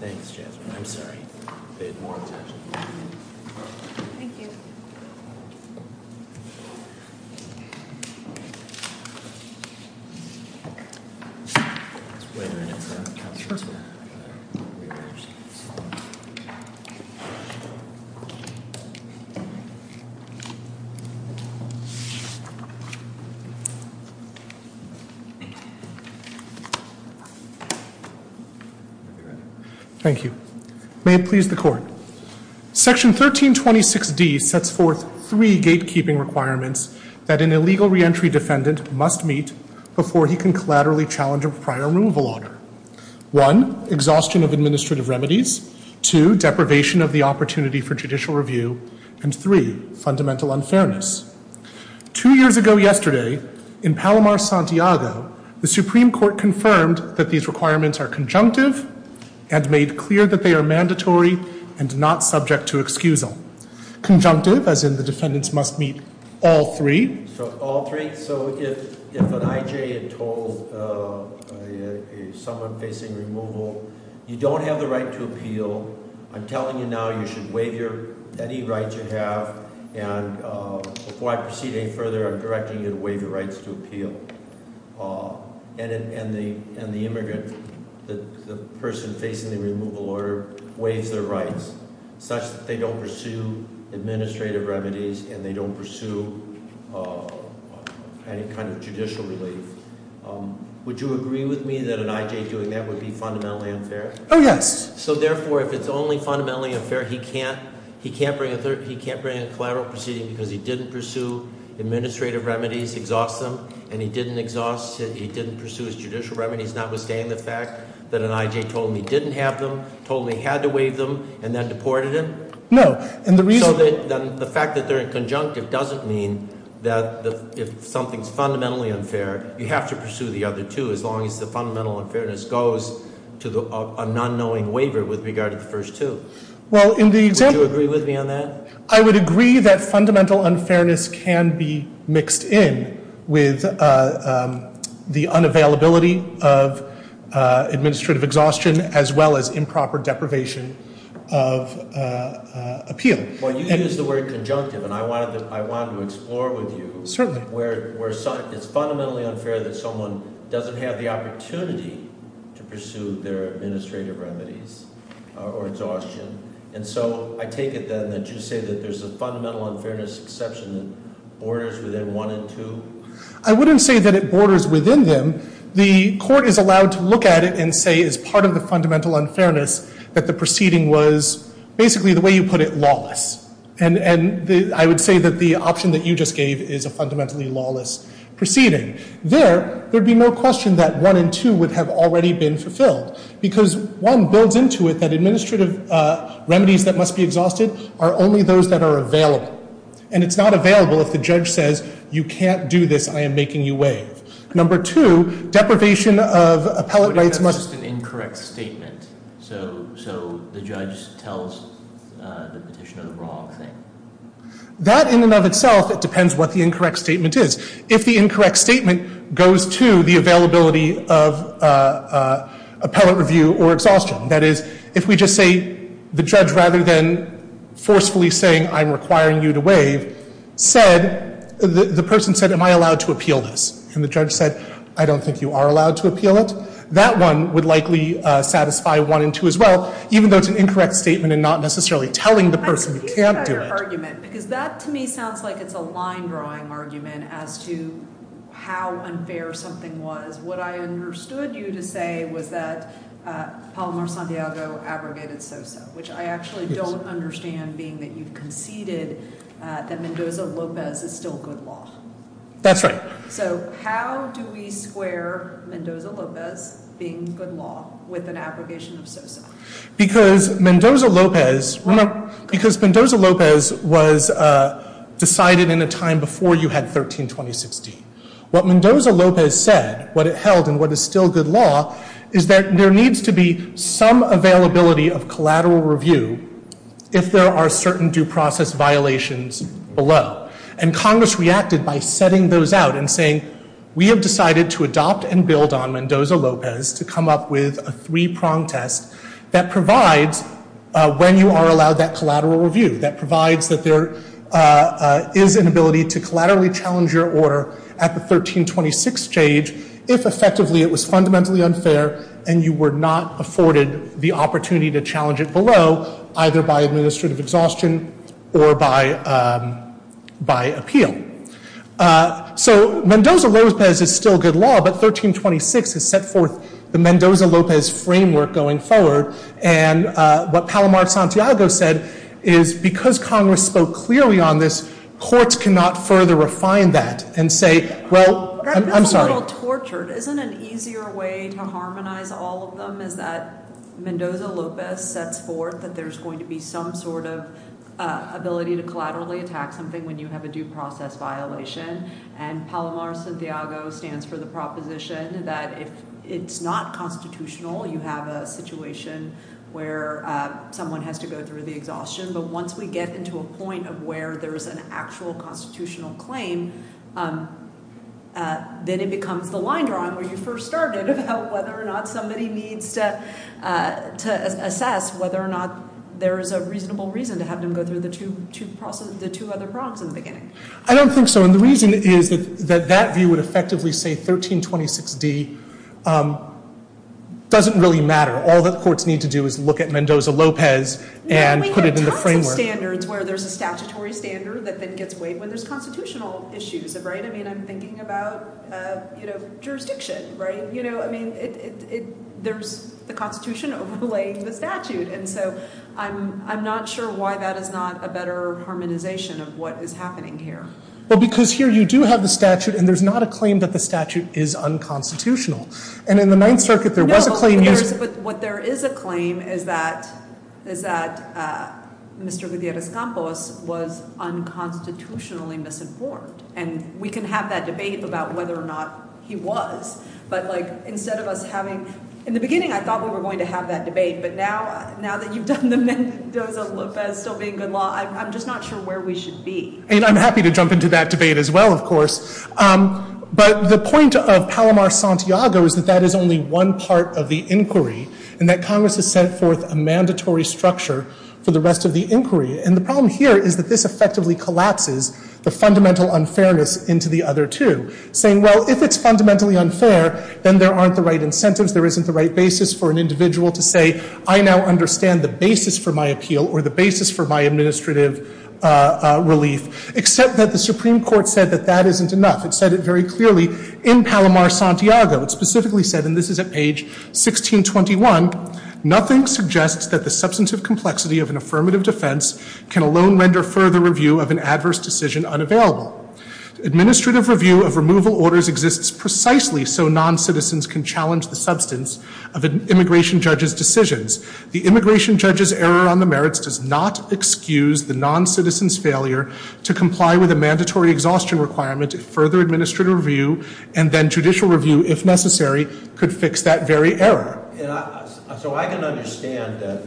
Thanks Jasmine, I'm sorry, I paid more attention than you did. Thank you. May it please the court. Section 1326D sets forth three gatekeeping requirements that an illegal reentry defendant must meet before he can collaterally challenge a prior removal order. One, exhaustion of administrative remedies. Two, deprivation of the opportunity for judicial review. And three, fundamental unfairness. Two years ago yesterday, in Palomar, Santiago, the Supreme Court confirmed that these requirements are conjunctive and made clear that they are mandatory and not subject to excusal. Conjunctive, as in the defendants must meet all three. So if an IJ had told someone facing removal, you don't have the right to appeal, I'm telling you now you should waive any rights you have and before I proceed any further, I'm directing you to waive your rights to appeal. And the immigrant, the person facing the removal order, waives their rights such that they don't pursue administrative remedies and they don't pursue any kind of judicial relief. Would you agree with me that an IJ doing that would be fundamentally unfair? Oh yes. So therefore, if it's only fundamentally unfair, he can't bring a collateral proceeding because he didn't pursue administrative remedies, exhaust them. And he didn't exhaust, he didn't pursue his judicial remedies, notwithstanding the fact that an IJ told him he didn't have them, told him he had to waive them, and then deported him? No, and the reason- And the fact that they're in conjunctive doesn't mean that if something's fundamentally unfair, you have to pursue the other two as long as the fundamental unfairness goes to an unknowing waiver with regard to the first two. Well, in the- Would you agree with me on that? I would agree that fundamental unfairness can be mixed in with the unavailability of administrative exhaustion as well as improper deprivation of appeal. Well, you used the word conjunctive and I wanted to explore with you- Certainly. Where it's fundamentally unfair that someone doesn't have the opportunity to pursue their administrative remedies or exhaustion. And so I take it then that you say that there's a fundamental unfairness exception that borders within one and two? I wouldn't say that it borders within them. The court is allowed to look at it and say as part of the fundamental unfairness that the proceeding was basically the way you put it, lawless. And I would say that the option that you just gave is a fundamentally lawless proceeding. There, there'd be no question that one and two would have already been fulfilled because one builds into it that administrative remedies that must be exhausted are only those that are available. And it's not available if the judge says you can't do this, I am making you waive. Number two, deprivation of appellate rights must- What if that's just an incorrect statement? So, so the judge tells the petitioner the wrong thing? That in and of itself, it depends what the incorrect statement is. If the incorrect statement goes to the availability of appellate review or exhaustion, that is, if we just say the judge rather than forcefully saying I'm requiring you to waive said, the person said, am I allowed to appeal this? And the judge said, I don't think you are allowed to appeal it. That one would likely satisfy one and two as well, even though it's an incorrect statement and not necessarily telling the person you can't do it. I'm confused about your argument because that to me sounds like it's a line drawing argument as to how unfair something was. What I understood you to say was that Palomar-Santiago abrogated SOSA, which I actually don't understand being that you conceded that Mendoza-Lopez is still good law. That's right. So how do we square Mendoza-Lopez being good law with an abrogation of SOSA? Because Mendoza-Lopez- Right. Because Mendoza-Lopez was decided in a time before you had 13-2016. What Mendoza-Lopez said, what it held and what is still good law, is that there needs to be some availability of collateral review if there are certain due process violations below. And Congress reacted by setting those out and saying we have decided to adopt and build on Mendoza-Lopez to come up with a three prong test that provides when you are allowed that collateral review, that provides that there is an ability to collaterally challenge your order at the 13-26 stage if effectively it was fundamentally unfair and you were not afforded the opportunity to challenge it below, either by administrative exhaustion or by appeal. So Mendoza-Lopez is still good law, but 13-26 has set forth the Mendoza-Lopez framework going forward. And what Palomar-Santiago said is because Congress spoke clearly on this, courts cannot further refine that and say, well- I'm sorry. Isn't an easier way to harmonize all of them is that Mendoza-Lopez sets forth that there is going to be some sort of ability to collaterally attack something when you have a due process violation. And Palomar-Santiago stands for the proposition that if it's not constitutional, you have a situation where someone has to go through the exhaustion. But once we get into a point of where there is an actual constitutional claim, then it becomes the line drawn where you first started about whether or not somebody needs to assess whether or not there is a reasonable reason to have them go through the two other prongs in the beginning. I don't think so. And the reason is that that view would effectively say 13-26-D doesn't really matter. All that courts need to do is look at Mendoza-Lopez and put it in the framework. We have tons of standards where there is a statutory standard that then gets weighed when there is constitutional issues. I'm thinking about jurisdiction. There is the Constitution overlaying the statute. And so I'm not sure why that is not a better harmonization of what is happening here. Well, because here you do have the statute, and there's not a claim that the statute is unconstitutional. And in the Ninth Circuit, there was a claim used. But what there is a claim is that Mr. Gutierrez-Campos was unconstitutionally misinformed. And we can have that debate about whether or not he was. But, like, instead of us having – in the beginning, I thought we were going to have that debate. But now that you've done the Mendoza-Lopez still being good law, I'm just not sure where we should be. And I'm happy to jump into that debate as well, of course. But the point of Palomar-Santiago is that that is only one part of the inquiry, and that Congress has set forth a mandatory structure for the rest of the inquiry. And the problem here is that this effectively collapses the fundamental unfairness into the other two, saying, well, if it's fundamentally unfair, then there aren't the right incentives, there isn't the right basis for an individual to say, I now understand the basis for my appeal or the basis for my administrative relief, except that the Supreme Court said that that isn't enough. It said it very clearly in Palomar-Santiago. It specifically said, and this is at page 1621, nothing suggests that the substantive complexity of an affirmative defense can alone render further review of an adverse decision unavailable. Administrative review of removal orders exists precisely so noncitizens can challenge the substance of an immigration judge's decisions. The immigration judge's error on the merits does not excuse the noncitizen's failure to comply with a mandatory exhaustion requirement if further administrative review and then judicial review, if necessary, could fix that very error. So I can understand that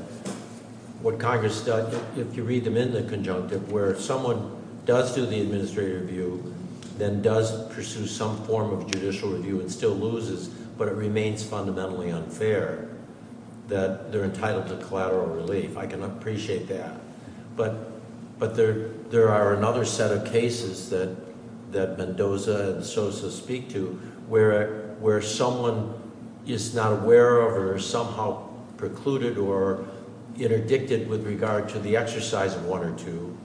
what Congress does, if you read them in the conjunctive, where someone does do the administrative review, then does pursue some form of judicial review and still loses, but it remains fundamentally unfair, that they're entitled to collateral relief. I can appreciate that. But there are another set of cases that Mendoza and Sosa speak to where someone is not aware of or somehow precluded or interdicted with regard to the exercise of one or two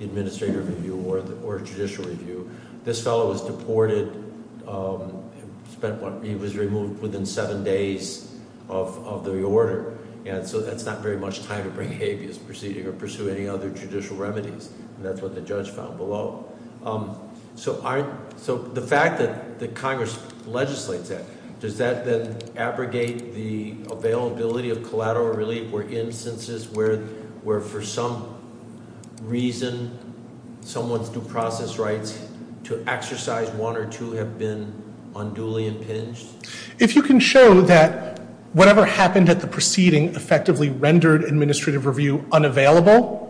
administrative review or judicial review. This fellow was deported. He was removed within seven days of the order. And so that's not very much time to bring habeas proceeding or pursue any other judicial remedies. And that's what the judge found below. So the fact that Congress legislates that, does that then abrogate the availability of collateral relief or instances where, for some reason, someone's due process rights to exercise one or two have been unduly impinged? If you can show that whatever happened at the proceeding effectively rendered administrative review unavailable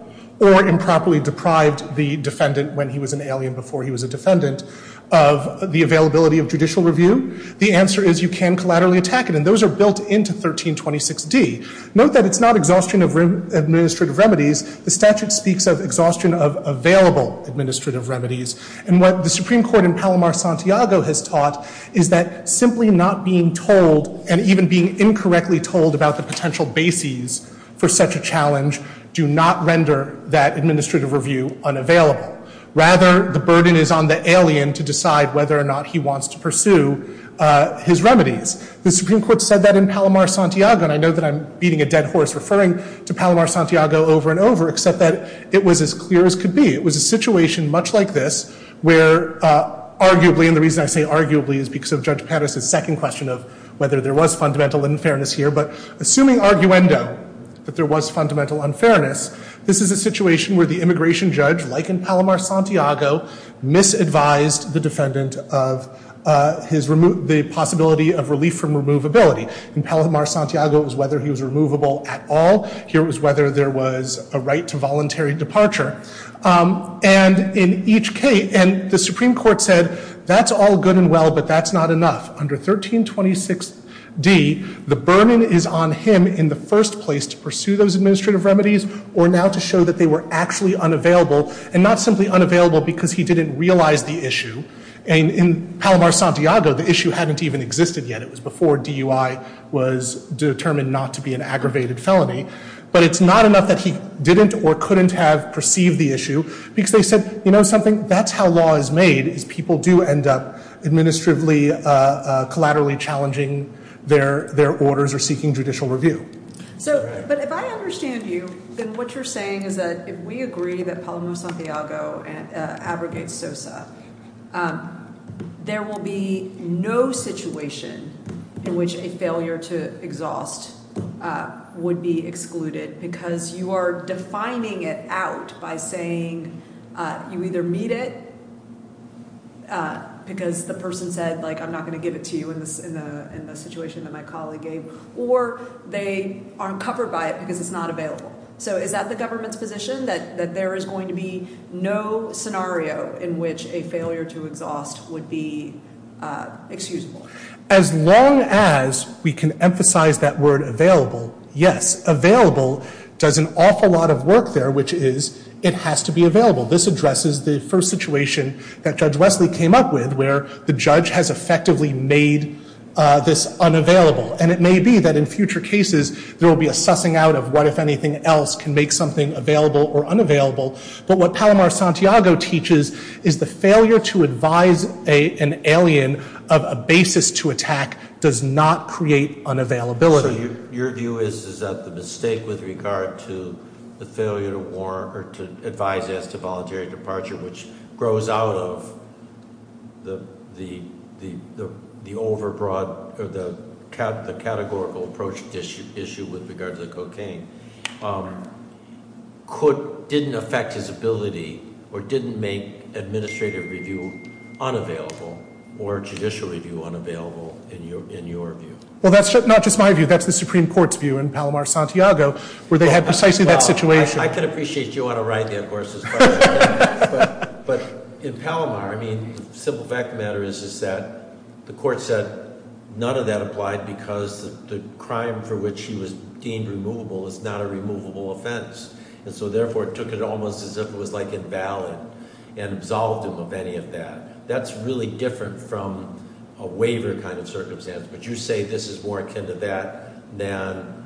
or improperly deprived the defendant, when he was an alien before he was a defendant, of the availability of judicial review, the answer is you can collaterally attack it. And those are built into 1326D. Note that it's not exhaustion of administrative remedies. The statute speaks of exhaustion of available administrative remedies. And what the Supreme Court in Palomar-Santiago has taught is that simply not being told and even being incorrectly told about the potential bases for such a challenge do not render that administrative review unavailable. Rather, the burden is on the alien to decide whether or not he wants to pursue his remedies. The Supreme Court said that in Palomar-Santiago, and I know that I'm beating a dead horse referring to Palomar-Santiago over and over, except that it was as clear as could be. It was a situation much like this where, arguably, and the reason I say arguably is because of Judge Pattis' second question of whether there was fundamental unfairness here, but assuming arguendo that there was fundamental unfairness, this is a situation where the immigration judge, like in Palomar-Santiago, misadvised the defendant of the possibility of relief from removability. In Palomar-Santiago, it was whether he was removable at all. Here it was whether there was a right to voluntary departure. And the Supreme Court said, that's all good and well, but that's not enough. Under 1326d, the burden is on him in the first place to pursue those administrative remedies or now to show that they were actually unavailable, and not simply unavailable because he didn't realize the issue. In Palomar-Santiago, the issue hadn't even existed yet. It was before DUI was determined not to be an aggravated felony. But it's not enough that he didn't or couldn't have perceived the issue because they said, you know something, that's how law is made, is people do end up administratively, collaterally challenging their orders or seeking judicial review. But if I understand you, then what you're saying is that if we agree that Palomar-Santiago abrogates SOSA, there will be no situation in which a failure to exhaust would be excluded because you are defining it out by saying you either meet it because the person said, like, I'm not going to give it to you in the situation that my colleague gave, or they aren't covered by it because it's not available. So is that the government's position that there is going to be no scenario in which a failure to exhaust would be excusable? As long as we can emphasize that word available, yes. Available does an awful lot of work there, which is it has to be available. This addresses the first situation that Judge Wesley came up with where the judge has effectively made this unavailable. And it may be that in future cases there will be a sussing out of what, if anything else, can make something available or unavailable. But what Palomar-Santiago teaches is the failure to advise an alien of a basis to attack does not create unavailability. So your view is that the mistake with regard to the failure to warn or to advise as to voluntary departure, which grows out of the categorical approach issue with regard to the cocaine, didn't affect his ability or didn't make administrative review unavailable or judicial review unavailable in your view? Well, that's not just my view. That's the Supreme Court's view in Palomar-Santiago where they had precisely that situation. I can appreciate you on a ride there, of course, as far as that. But in Palomar, I mean, the simple fact of the matter is that the court said none of that applied because the crime for which he was deemed removable is not a removable offense. And so therefore it took it almost as if it was like invalid and absolved him of any of that. That's really different from a waiver kind of circumstance. But you say this is more akin to that than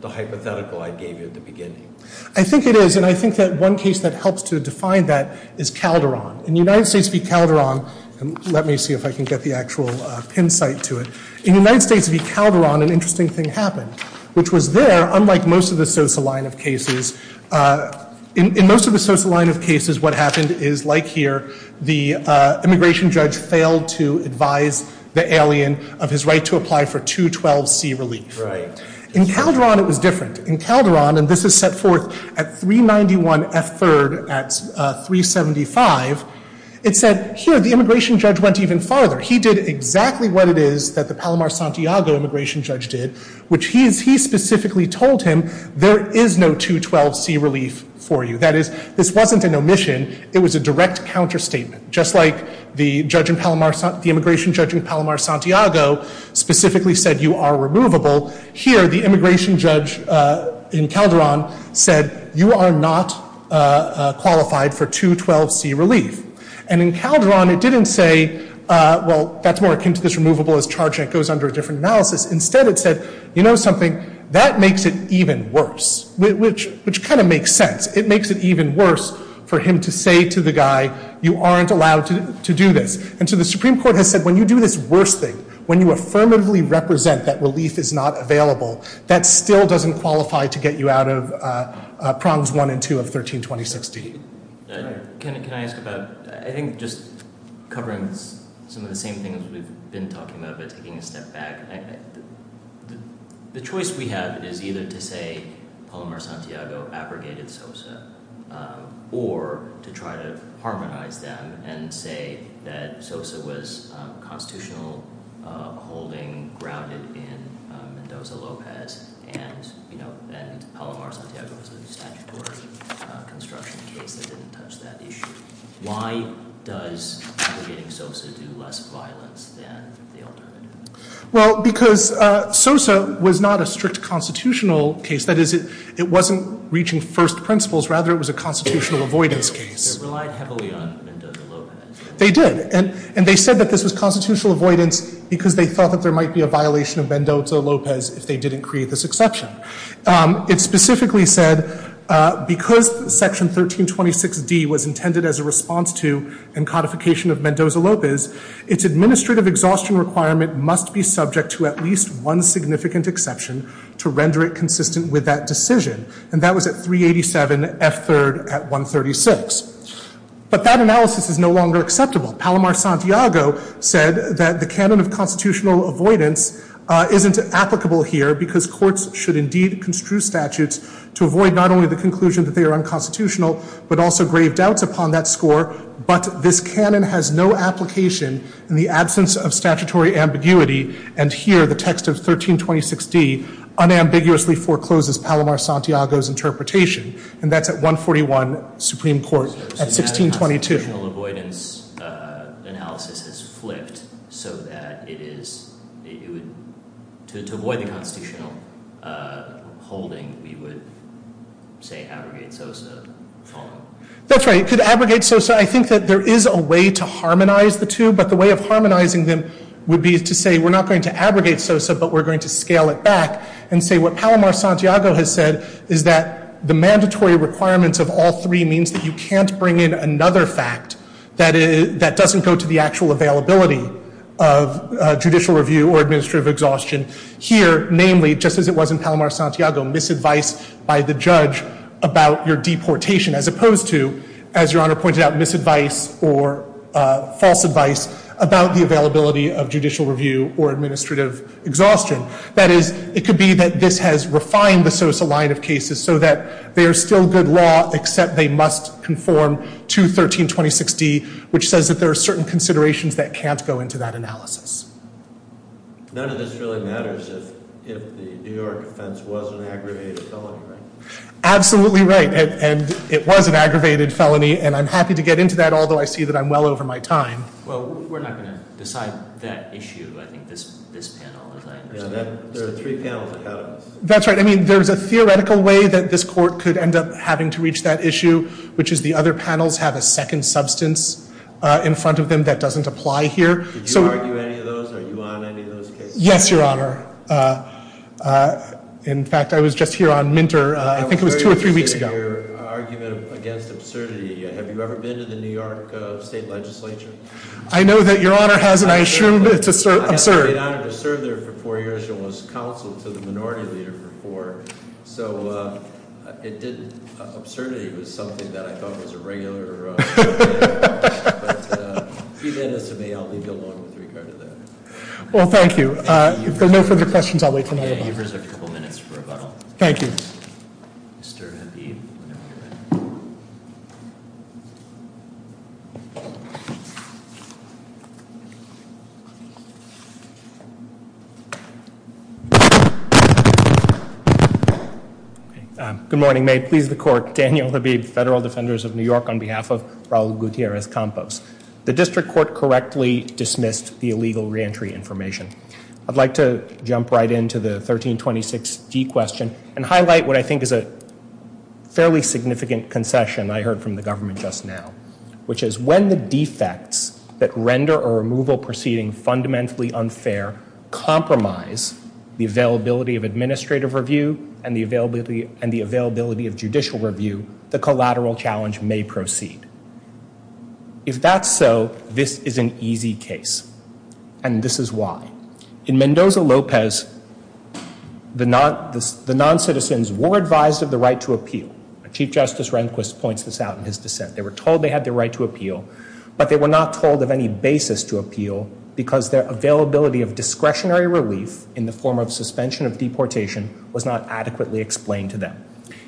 the hypothetical I gave you at the beginning. I think it is. And I think that one case that helps to define that is Calderon. In the United States v. Calderon, and let me see if I can get the actual pin site to it. In the United States v. Calderon, an interesting thing happened, which was there, unlike most of the Sosa line of cases, in most of the Sosa line of cases, what happened is like here, the immigration judge failed to advise the alien of his right to apply for 212C relief. In Calderon it was different. In Calderon, and this is set forth at 391F3rd at 375, it said here the immigration judge went even farther. He did exactly what it is that the Palomar-Santiago immigration judge did, which he specifically told him there is no 212C relief for you. That is, this wasn't an omission, it was a direct counterstatement. Just like the immigration judge in Palomar-Santiago specifically said you are removable, here the immigration judge in Calderon said you are not qualified for 212C relief. And in Calderon it didn't say, well, that's more akin to this removable as charge and it goes under a different analysis. Instead it said, you know something, that makes it even worse, which kind of makes sense. It makes it even worse for him to say to the guy, you aren't allowed to do this. And so the Supreme Court has said when you do this worse thing, when you affirmatively represent that relief is not available, that still doesn't qualify to get you out of prongs one and two of 1326D. Can I ask about, I think just covering some of the same things we've been talking about but taking a step back, the choice we have is either to say Palomar-Santiago abrogated SOSA or to try to harmonize them and say that SOSA was constitutional holding grounded in Mendoza-Lopez and Palomar-Santiago was a statutory construction case that didn't touch that issue. Why does abrogating SOSA do less violence than the alternative? Well, because SOSA was not a strict constitutional case. That is, it wasn't reaching first principles. Rather, it was a constitutional avoidance case. They relied heavily on Mendoza-Lopez. They did. And they said that this was constitutional avoidance because they thought that there might be a violation of Mendoza-Lopez if they didn't create this exception. It specifically said because Section 1326D was intended as a response to and codification of Mendoza-Lopez, its administrative exhaustion requirement must be subject to at least one significant exception to render it consistent with that decision. And that was at 387 F-3rd at 136. But that analysis is no longer acceptable. Palomar-Santiago said that the canon of constitutional avoidance isn't applicable here because courts should indeed construe statutes to avoid not only the conclusion that they are unconstitutional but also grave doubts upon that score. But this canon has no application in the absence of statutory ambiguity. And here, the text of 1326D unambiguously forecloses Palomar-Santiago's interpretation. And that's at 141 Supreme Court at 1622. If the constitutional avoidance analysis is flipped so that it is – to avoid the constitutional holding, we would say abrogate SOSA. That's right. You could abrogate SOSA. I think that there is a way to harmonize the two. But the way of harmonizing them would be to say we're not going to abrogate SOSA but we're going to scale it back and say what Palomar-Santiago has said is that the mandatory requirements of all three means that you can't bring in another fact that doesn't go to the actual availability of judicial review or administrative exhaustion. Here, namely, just as it was in Palomar-Santiago, misadvice by the judge about your deportation as opposed to, as Your Honor pointed out, misadvice or false advice about the availability of judicial review or administrative exhaustion. That is, it could be that this has refined the SOSA line of cases so that they are still good law except they must conform to 1326D, which says that there are certain considerations that can't go into that analysis. None of this really matters if the New York offense was an aggravated felony, right? Absolutely right. And it was an aggravated felony, and I'm happy to get into that, although I see that I'm well over my time. Well, we're not going to decide that issue. There are three panels of evidence. That's right. I mean, there's a theoretical way that this court could end up having to reach that issue, which is the other panels have a second substance in front of them that doesn't apply here. Did you argue any of those? Are you on any of those cases? Yes, Your Honor. In fact, I was just here on Minter. I think it was two or three weeks ago. I'm very interested in your argument against absurdity. Have you ever been to the New York State Legislature? I know that Your Honor has, and I assume it's absurd. I've been honored to serve there for four years and was counsel to the minority leader for four. So absurdity was something that I thought was a regular thing. But if you lend this to me, I'll leave you alone with regard to that. Well, thank you. If there are no further questions, I'll wait until 9 o'clock. You have a couple minutes for rebuttal. Thank you. Mr. Habib, whenever you're ready. Good morning. May it please the Court. Daniel Habib, Federal Defenders of New York, on behalf of Raul Gutierrez-Campos. The District Court correctly dismissed the illegal reentry information. I'd like to jump right into the 1326d question and highlight what I think is a fairly significant concession I heard from the government just now, which is when the defects that render a removal proceeding fundamentally unfair compromise the availability of administrative review and the availability of judicial review, the collateral challenge may proceed. If that's so, this is an easy case, and this is why. In Mendoza-Lopez, the noncitizens were advised of the right to appeal. Chief Justice Rehnquist points this out in his dissent. They were told they had the right to appeal, but they were not told of any basis to appeal because their availability of discretionary relief in the form of suspension of deportation was not adequately explained to them.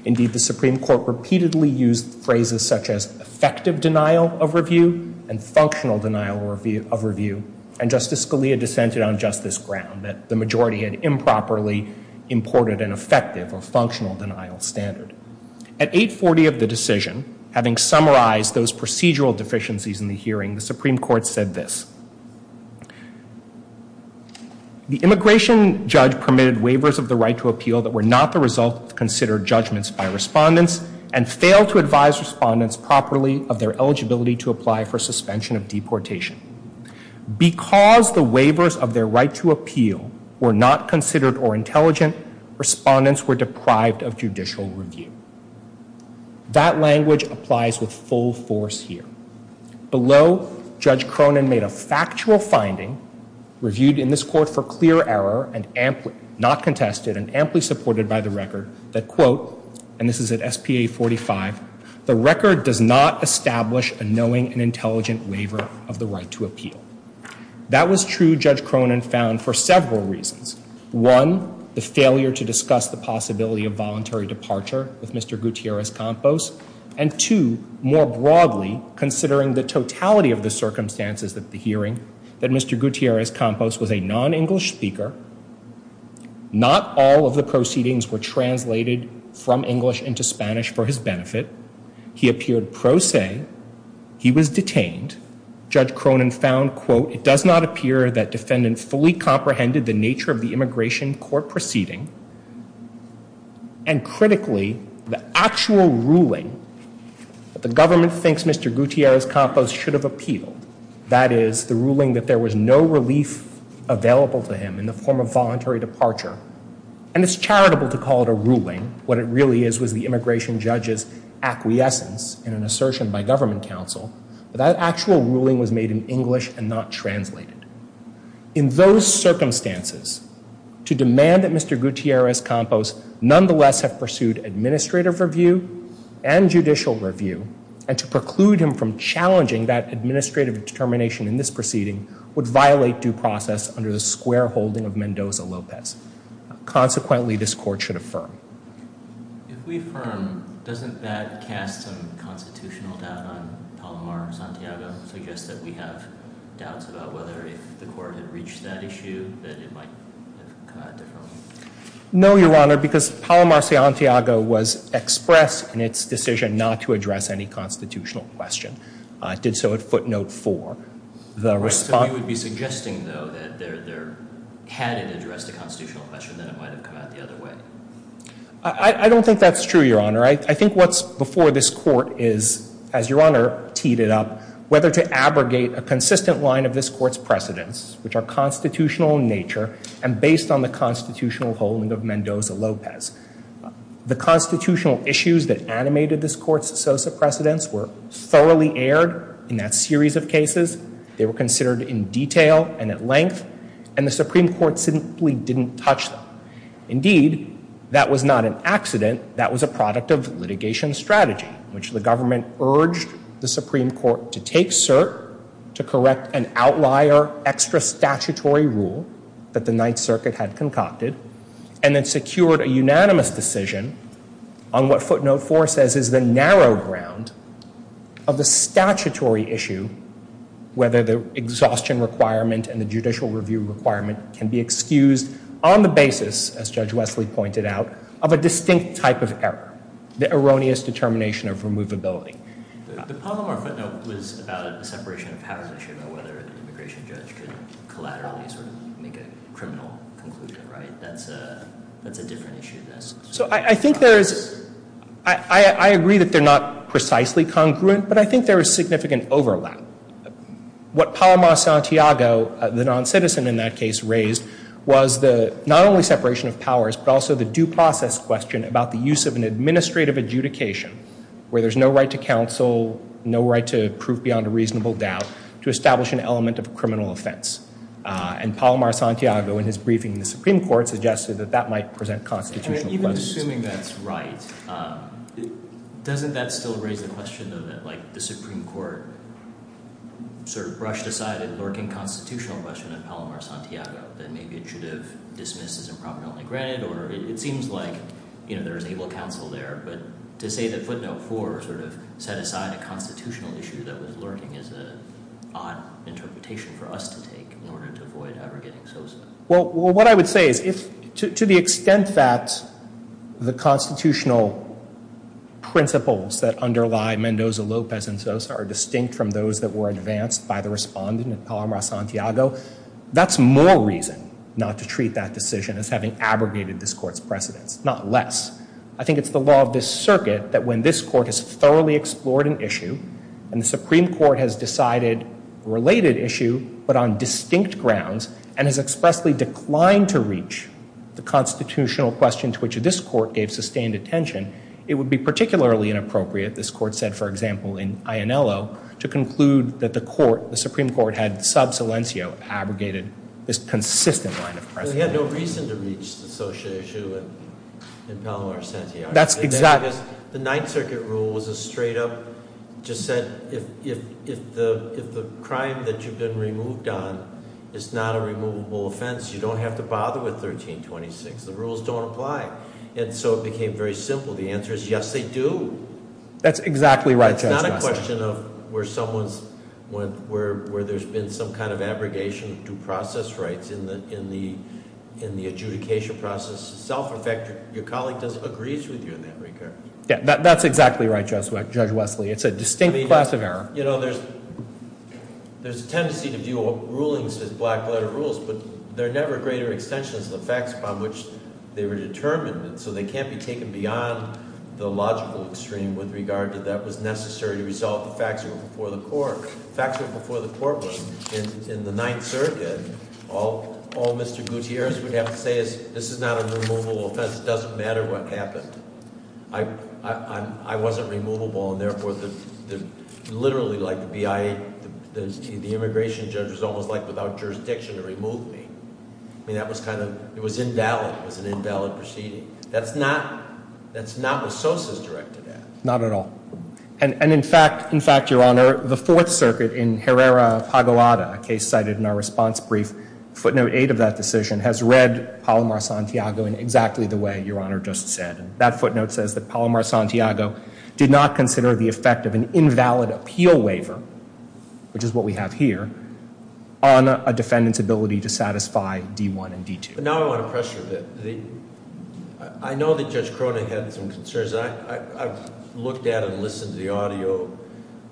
Indeed, the Supreme Court repeatedly used phrases such as effective denial of review and functional denial of review, and Justice Scalia dissented on justice ground that the majority had improperly imported an effective or functional denial standard. At 840 of the decision, having summarized those procedural deficiencies in the hearing, the Supreme Court said this. The immigration judge permitted waivers of the right to appeal that were not the result of considered judgments by respondents and failed to advise respondents properly of their eligibility to apply for suspension of deportation. Because the waivers of their right to appeal were not considered or intelligent, respondents were deprived of judicial review. That language applies with full force here. Below, Judge Cronin made a factual finding, reviewed in this court for clear error, and not contested and amply supported by the record, that quote, and this is at SPA 45, the record does not establish a knowing and intelligent waiver of the right to appeal. That was true, Judge Cronin found, for several reasons. One, the failure to discuss the possibility of voluntary departure with Mr. Gutierrez-Campos, and two, more broadly, considering the totality of the circumstances of the hearing, that Mr. Gutierrez-Campos was a non-English speaker, not all of the proceedings were translated from English into Spanish for his benefit. He appeared pro se. He was detained. Judge Cronin found, quote, it does not appear that defendants fully comprehended the nature of the immigration court proceeding, and critically, the actual ruling that the government thinks Mr. Gutierrez-Campos should have appealed, that is, the ruling that there was no relief available to him in the form of voluntary departure, and it's charitable to call it a ruling. What it really is was the immigration judge's acquiescence in an assertion by government counsel, but that actual ruling was made in English and not translated. In those circumstances, to demand that Mr. Gutierrez-Campos nonetheless have pursued administrative review and judicial review, and to preclude him from challenging that administrative determination in this proceeding, would violate due process under the square holding of Mendoza-Lopez. Consequently, this court should affirm. If we affirm, doesn't that cast some constitutional doubt on Palomar-Santiago, suggest that we have doubts about whether if the court had reached that issue, that it might have come out differently? No, Your Honor, because Palomar-Santiago was expressed in its decision not to address any constitutional question. It did so at footnote four. So you would be suggesting, though, that had it addressed a constitutional question, that it might have come out the other way? I don't think that's true, Your Honor. I think what's before this court is, as Your Honor teed it up, whether to abrogate a consistent line of this court's precedents, which are constitutional in nature and based on the constitutional holding of Mendoza-Lopez. The constitutional issues that animated this court's associate precedents were thoroughly aired in that series of cases. They were considered in detail and at length, and the Supreme Court simply didn't touch them. Indeed, that was not an accident. That was a product of litigation strategy, which the government urged the Supreme Court to take cert to correct an outlier extra statutory rule that the Ninth Circuit had concocted and then secured a unanimous decision on what footnote four says is the narrow ground of the statutory issue, whether the exhaustion requirement and the judicial review requirement can be excused on the basis, as Judge Wesley pointed out, of a distinct type of error, the erroneous determination of removability. The Palomar footnote was about a separation of powers issue, about whether the immigration judge could collaterally sort of make a criminal conclusion, right? That's a different issue. So I think there is, I agree that they're not precisely congruent, but I think there is significant overlap. What Palomar-Santiago, the non-citizen in that case, raised was the not only separation of powers, but also the due process question about the use of an administrative adjudication where there's no right to counsel, no right to prove beyond a reasonable doubt, to establish an element of criminal offense. And Palomar-Santiago, in his briefing in the Supreme Court, suggested that that might present constitutional questions. Even assuming that's right, doesn't that still raise the question, though, that like the Supreme Court sort of brushed aside a lurking constitutional question of Palomar-Santiago that maybe it should have dismissed as improperly granted? Or it seems like, you know, there's able counsel there, but to say that footnote four sort of set aside a constitutional issue that was lurking is an odd interpretation for us to take in order to avoid ever getting SOSA. Well, what I would say is to the extent that the constitutional principles that underlie Mendoza, Lopez, and SOSA are distinct from those that were advanced by the respondent in Palomar-Santiago, that's more reason not to treat that decision as having abrogated this Court's precedence, not less. I think it's the law of this circuit that when this Court has thoroughly explored an issue, and the Supreme Court has decided a related issue, but on distinct grounds, and has expressly declined to reach the constitutional question to which this Court gave sustained attention, it would be particularly inappropriate, this Court said, for example, in Ionello, to conclude that the Supreme Court had, sub silencio, abrogated this consistent line of precedent. They had no reason to reach the social issue in Palomar-Santiago. That's exactly. The Ninth Circuit rule was a straight up, just said if the crime that you've been removed on is not a removable offense, you don't have to bother with 1326. The rules don't apply. And so it became very simple. The answer is yes, they do. That's exactly right, Judge Wesley. It's not a question of where there's been some kind of abrogation of due process rights in the adjudication process itself. In fact, your colleague agrees with you in that regard. That's exactly right, Judge Wesley. It's a distinct class of error. There's a tendency to view rulings as black letter rules, but they're never greater extensions of the facts upon which they were determined. And so they can't be taken beyond the logical extreme with regard to that was necessary to resolve the facts before the court. The facts before the court were, in the Ninth Circuit, all Mr. Gutierrez would have to say is, this is not a removable offense. It doesn't matter what happened. I wasn't removable. And therefore, literally, the immigration judge was almost like without jurisdiction to remove me. I mean, it was invalid. It was an invalid proceeding. That's not what Sosa's directed at. Not at all. And in fact, your Honor, the Fourth Circuit in Herrera-Pagoada, a case cited in our response brief, footnote eight of that decision has read Palomar-Santiago in exactly the way your Honor just said. That footnote says that Palomar-Santiago did not consider the effect of an invalid appeal waiver, which is what we have here, on a defendant's ability to satisfy D-1 and D-2. But now I want to pressure a bit. I know that Judge Cronin had some concerns. I've looked at and listened to the audio,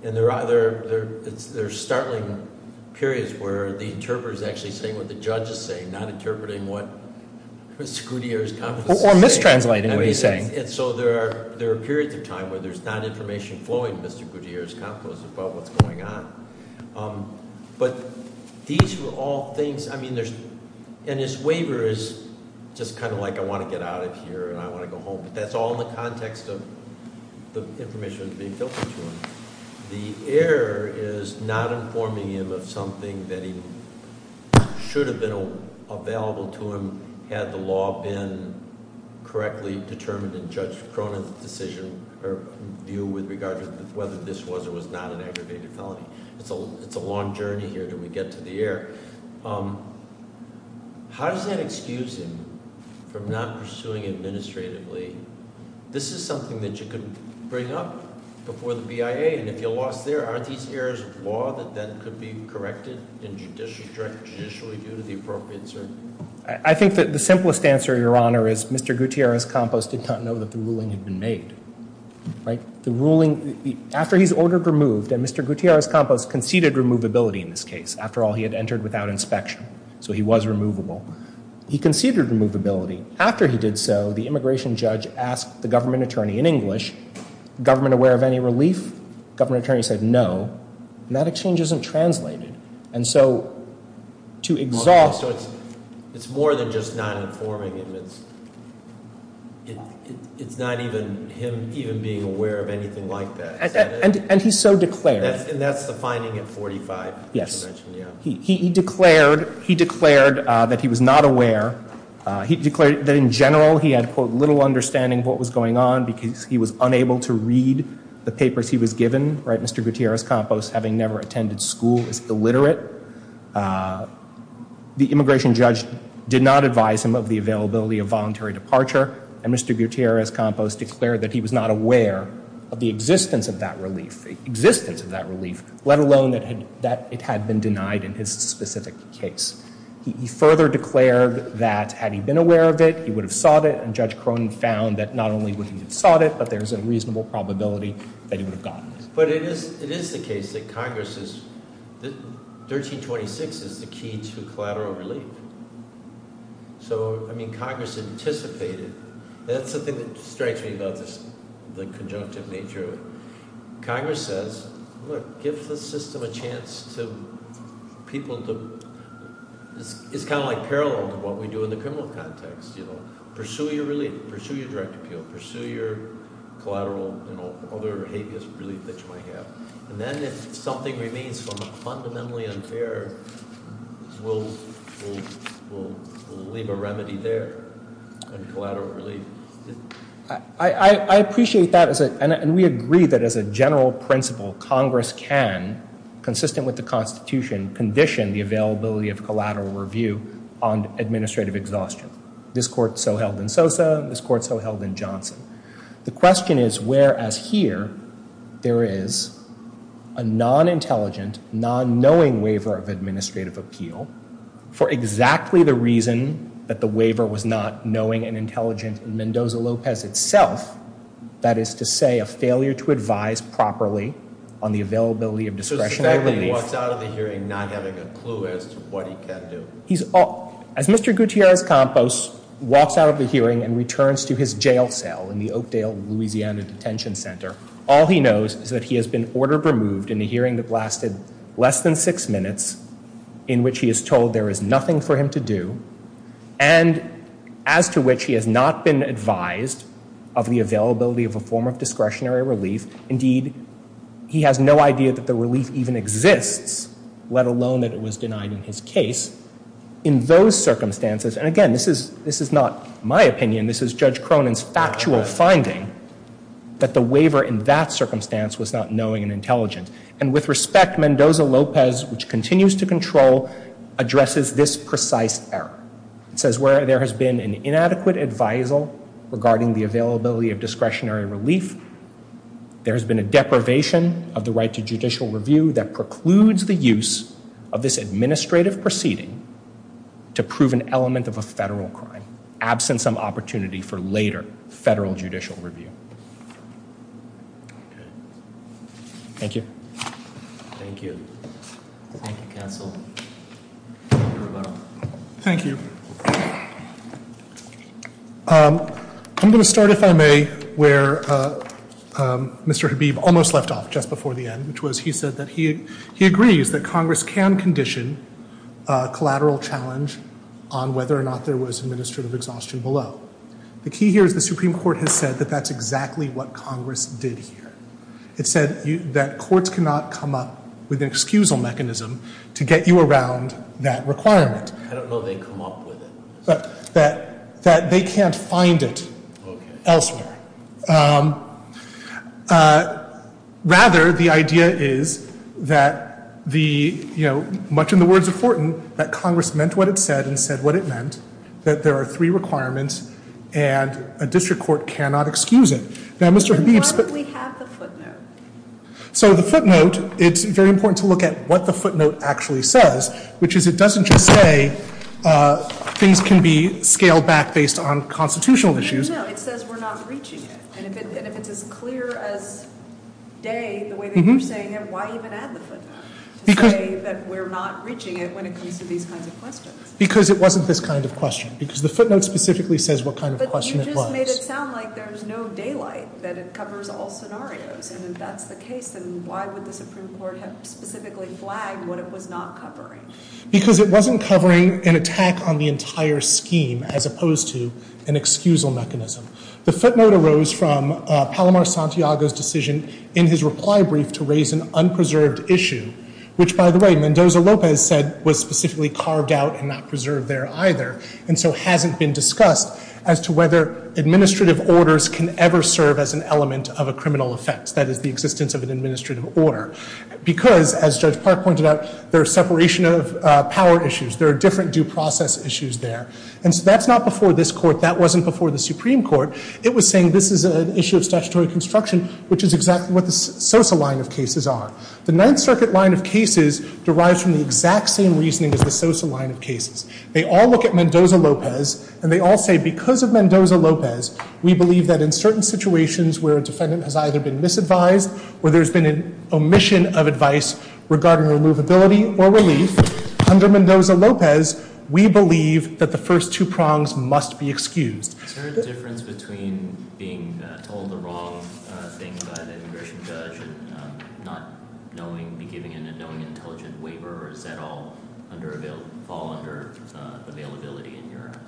and there are startling periods where the interpreter is actually saying what the judge is saying, not interpreting what Mr. Gutierrez' confidences say. Or mistranslating what he's saying. And so there are periods of time where there's not information flowing to Mr. Gutierrez' confidences about what's going on. But these were all things, I mean, and his waiver is just kind of like I want to get out of here and I want to go home. But that's all in the context of the information being filtered to him. The error is not informing him of something that should have been available to him had the law been correctly determined in Judge Cronin's decision or view with regard to whether this was or was not an aggravated felony. It's a long journey here until we get to the error. How does that excuse him from not pursuing administratively? This is something that you could bring up before the BIA, and if you're lost there, aren't these errors of law that then could be corrected in judicial review to the appropriate cert? I think that the simplest answer, Your Honor, is Mr. Gutierrez Campos did not know that the ruling had been made. The ruling, after he's ordered removed, and Mr. Gutierrez Campos conceded removability in this case. After all, he had entered without inspection. So he was removable. He conceded removability. After he did so, the immigration judge asked the government attorney in English, government aware of any relief? Government attorney said no. And that exchange isn't translated. And so to exalt- So it's more than just not informing him. It's not even him even being aware of anything like that. And he so declared. And that's the finding at 45. Yes. He declared that he was not aware. He declared that in general he had, quote, little understanding of what was going on because he was unable to read the papers he was given. Mr. Gutierrez Campos, having never attended school, is illiterate. The immigration judge did not advise him of the availability of voluntary departure. And Mr. Gutierrez Campos declared that he was not aware of the existence of that relief, existence of that relief, let alone that it had been denied in his specific case. He further declared that had he been aware of it, he would have sought it. And Judge Cronin found that not only would he have sought it, but there is a reasonable probability that he would have gotten it. But it is the case that Congress is-1326 is the key to collateral relief. So, I mean, Congress anticipated. That's the thing that strikes me about the conjunctive nature of it. Congress says, look, give the system a chance to people to-it's kind of like parallel to what we do in the criminal context. You know, pursue your relief, pursue your direct appeal, pursue your collateral, you know, other habeas relief that you might have. And then if something remains fundamentally unfair, we'll leave a remedy there in collateral relief. I appreciate that, and we agree that as a general principle, Congress can, consistent with the Constitution, condition the availability of collateral review on administrative exhaustion. This Court so held in Sosa, this Court so held in Johnson. The question is, whereas here there is a non-intelligent, non-knowing waiver of administrative appeal for exactly the reason that the waiver was not knowing and intelligent in Mendoza-Lopez itself, that is to say, a failure to advise properly on the availability of discretionary relief. He walks out of the hearing not having a clue as to what he can do. As Mr. Gutierrez-Campos walks out of the hearing and returns to his jail cell in the Oakdale, Louisiana, detention center, all he knows is that he has been ordered removed in a hearing that lasted less than six minutes, in which he is told there is nothing for him to do, and as to which he has not been advised of the availability of a form of discretionary relief. Indeed, he has no idea that the relief even exists, let alone that it was denied in his case. In those circumstances, and again, this is not my opinion, this is Judge Cronin's factual finding, that the waiver in that circumstance was not knowing and intelligent. And with respect, Mendoza-Lopez, which continues to control, addresses this precise error. It says, where there has been an inadequate advisal regarding the availability of discretionary relief, there has been a deprivation of the right to judicial review that precludes the use of this administrative proceeding to prove an element of a federal crime, absent some opportunity for later federal judicial review. Thank you. Thank you. Thank you, counsel. Thank you. I'm going to start, if I may, where Mr. Habib almost left off just before the end, which was he said that he agrees that Congress can condition a collateral challenge on whether or not there was administrative exhaustion below. The key here is the Supreme Court has said that that's exactly what Congress did here. It said that courts cannot come up with an excusal mechanism to get you around that requirement. I don't know they come up with it. That they can't find it elsewhere. Rather, the idea is that the, you know, much in the words of Fortin, that Congress meant what it said and said what it meant, that there are three requirements and a district court cannot excuse it. Now, Mr. Habib's... Why don't we have the footnote? So the footnote, it's very important to look at what the footnote actually says, which is it doesn't just say things can be scaled back based on constitutional issues. No, it says we're not reaching it. And if it's as clear as day, the way that you're saying it, why even add the footnote to say that we're not reaching it when it comes to these kinds of questions? Because it wasn't this kind of question. Because the footnote specifically says what kind of question it was. But you just made it sound like there's no daylight, that it covers all scenarios. And if that's the case, then why would the Supreme Court have specifically flagged what it was not covering? Because it wasn't covering an attack on the entire scheme as opposed to an excusal mechanism. The footnote arose from Palomar Santiago's decision in his reply brief to raise an unpreserved issue, which, by the way, Mendoza-Lopez said was specifically carved out and not preserved there either, and so hasn't been discussed as to whether administrative orders can ever serve as an element of a criminal offense. That is, the existence of an administrative order. Because, as Judge Park pointed out, there's separation of power issues. There are different due process issues there. And so that's not before this Court. That wasn't before the Supreme Court. It was saying this is an issue of statutory construction, which is exactly what the Sosa line of cases are. The Ninth Circuit line of cases derives from the exact same reasoning as the Sosa line of cases. They all look at Mendoza-Lopez, and they all say because of Mendoza-Lopez, we believe that in certain situations where a defendant has either been misadvised or there's been an omission of advice regarding removability or relief, under Mendoza-Lopez, we believe that the first two prongs must be excused. Is there a difference between being told the wrong thing by the immigration judge and not knowing, be giving an unknowing, intelligent waiver, or does that all fall under availability in your act?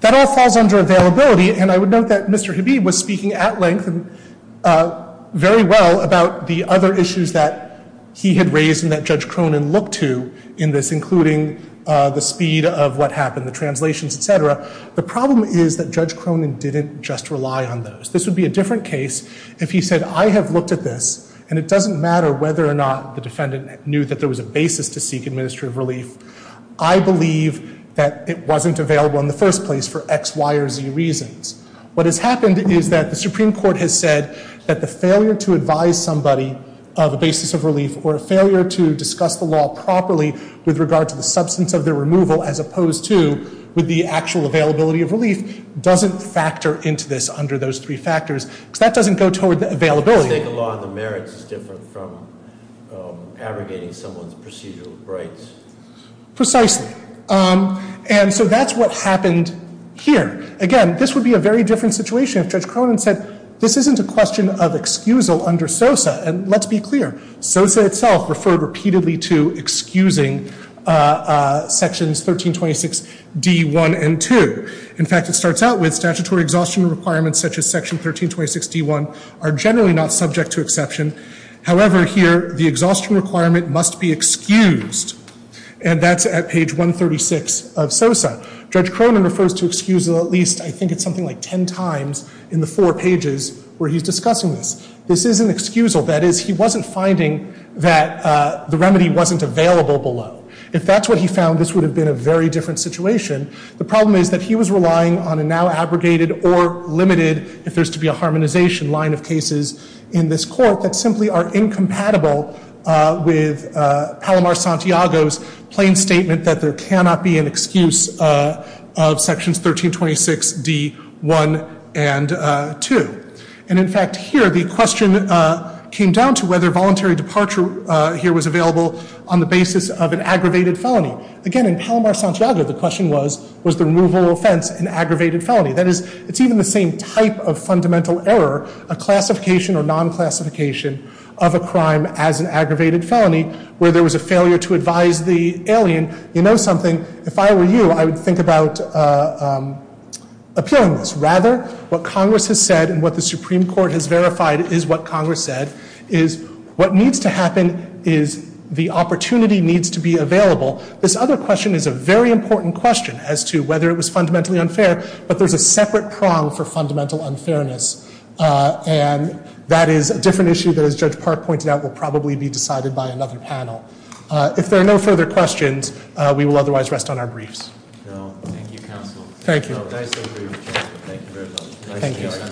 That all falls under availability, and I would note that Mr. Habib was speaking at length and very well about the other issues that he had raised and that Judge Cronin looked to in this, including the speed of what happened, the translations, et cetera. The problem is that Judge Cronin didn't just rely on those. This would be a different case if he said, I have looked at this, and it doesn't matter whether or not the defendant knew that there was a basis to seek administrative relief. I believe that it wasn't available in the first place for X, Y, or Z reasons. What has happened is that the Supreme Court has said that the failure to advise somebody of a basis of relief or a failure to discuss the law properly with regard to the substance of the removal as opposed to with the actual availability of relief doesn't factor into this under those three factors, because that doesn't go toward the availability. The mistake of law and the merits is different from abrogating someone's procedural rights. Precisely. And so that's what happened here. Again, this would be a very different situation if Judge Cronin said, this isn't a question of excusal under SOSA. And let's be clear, SOSA itself referred repeatedly to excusing Sections 1326D1 and 2. In fact, it starts out with statutory exhaustion requirements such as Section 1326D1 are generally not subject to exception. However, here the exhaustion requirement must be excused, and that's at page 136 of SOSA. Judge Cronin refers to excusal at least, I think it's something like ten times in the four pages where he's discussing this. This isn't excusal. That is, he wasn't finding that the remedy wasn't available below. If that's what he found, this would have been a very different situation. The problem is that he was relying on a now abrogated or limited, if there's to be a harmonization, line of cases in this Court that simply are incompatible with Palomar-Santiago's plain statement that there cannot be an excuse of Sections 1326D1 and 2. And, in fact, here the question came down to whether voluntary departure here was available on the basis of an aggravated felony. Again, in Palomar-Santiago, the question was, was the removal of offense an aggravated felony? That is, it's even the same type of fundamental error, a classification or non-classification of a crime as an aggravated felony, where there was a failure to advise the alien, you know something, if I were you, I would think about appealing this. Rather, what Congress has said and what the Supreme Court has verified is what Congress said, is what needs to happen is the opportunity needs to be available. This other question is a very important question as to whether it was fundamentally unfair, but there's a separate prong for fundamental unfairness. And that is a different issue that, as Judge Park pointed out, will probably be decided by another panel. If there are no further questions, we will otherwise rest on our briefs. Thank you, Counsel. Thank you.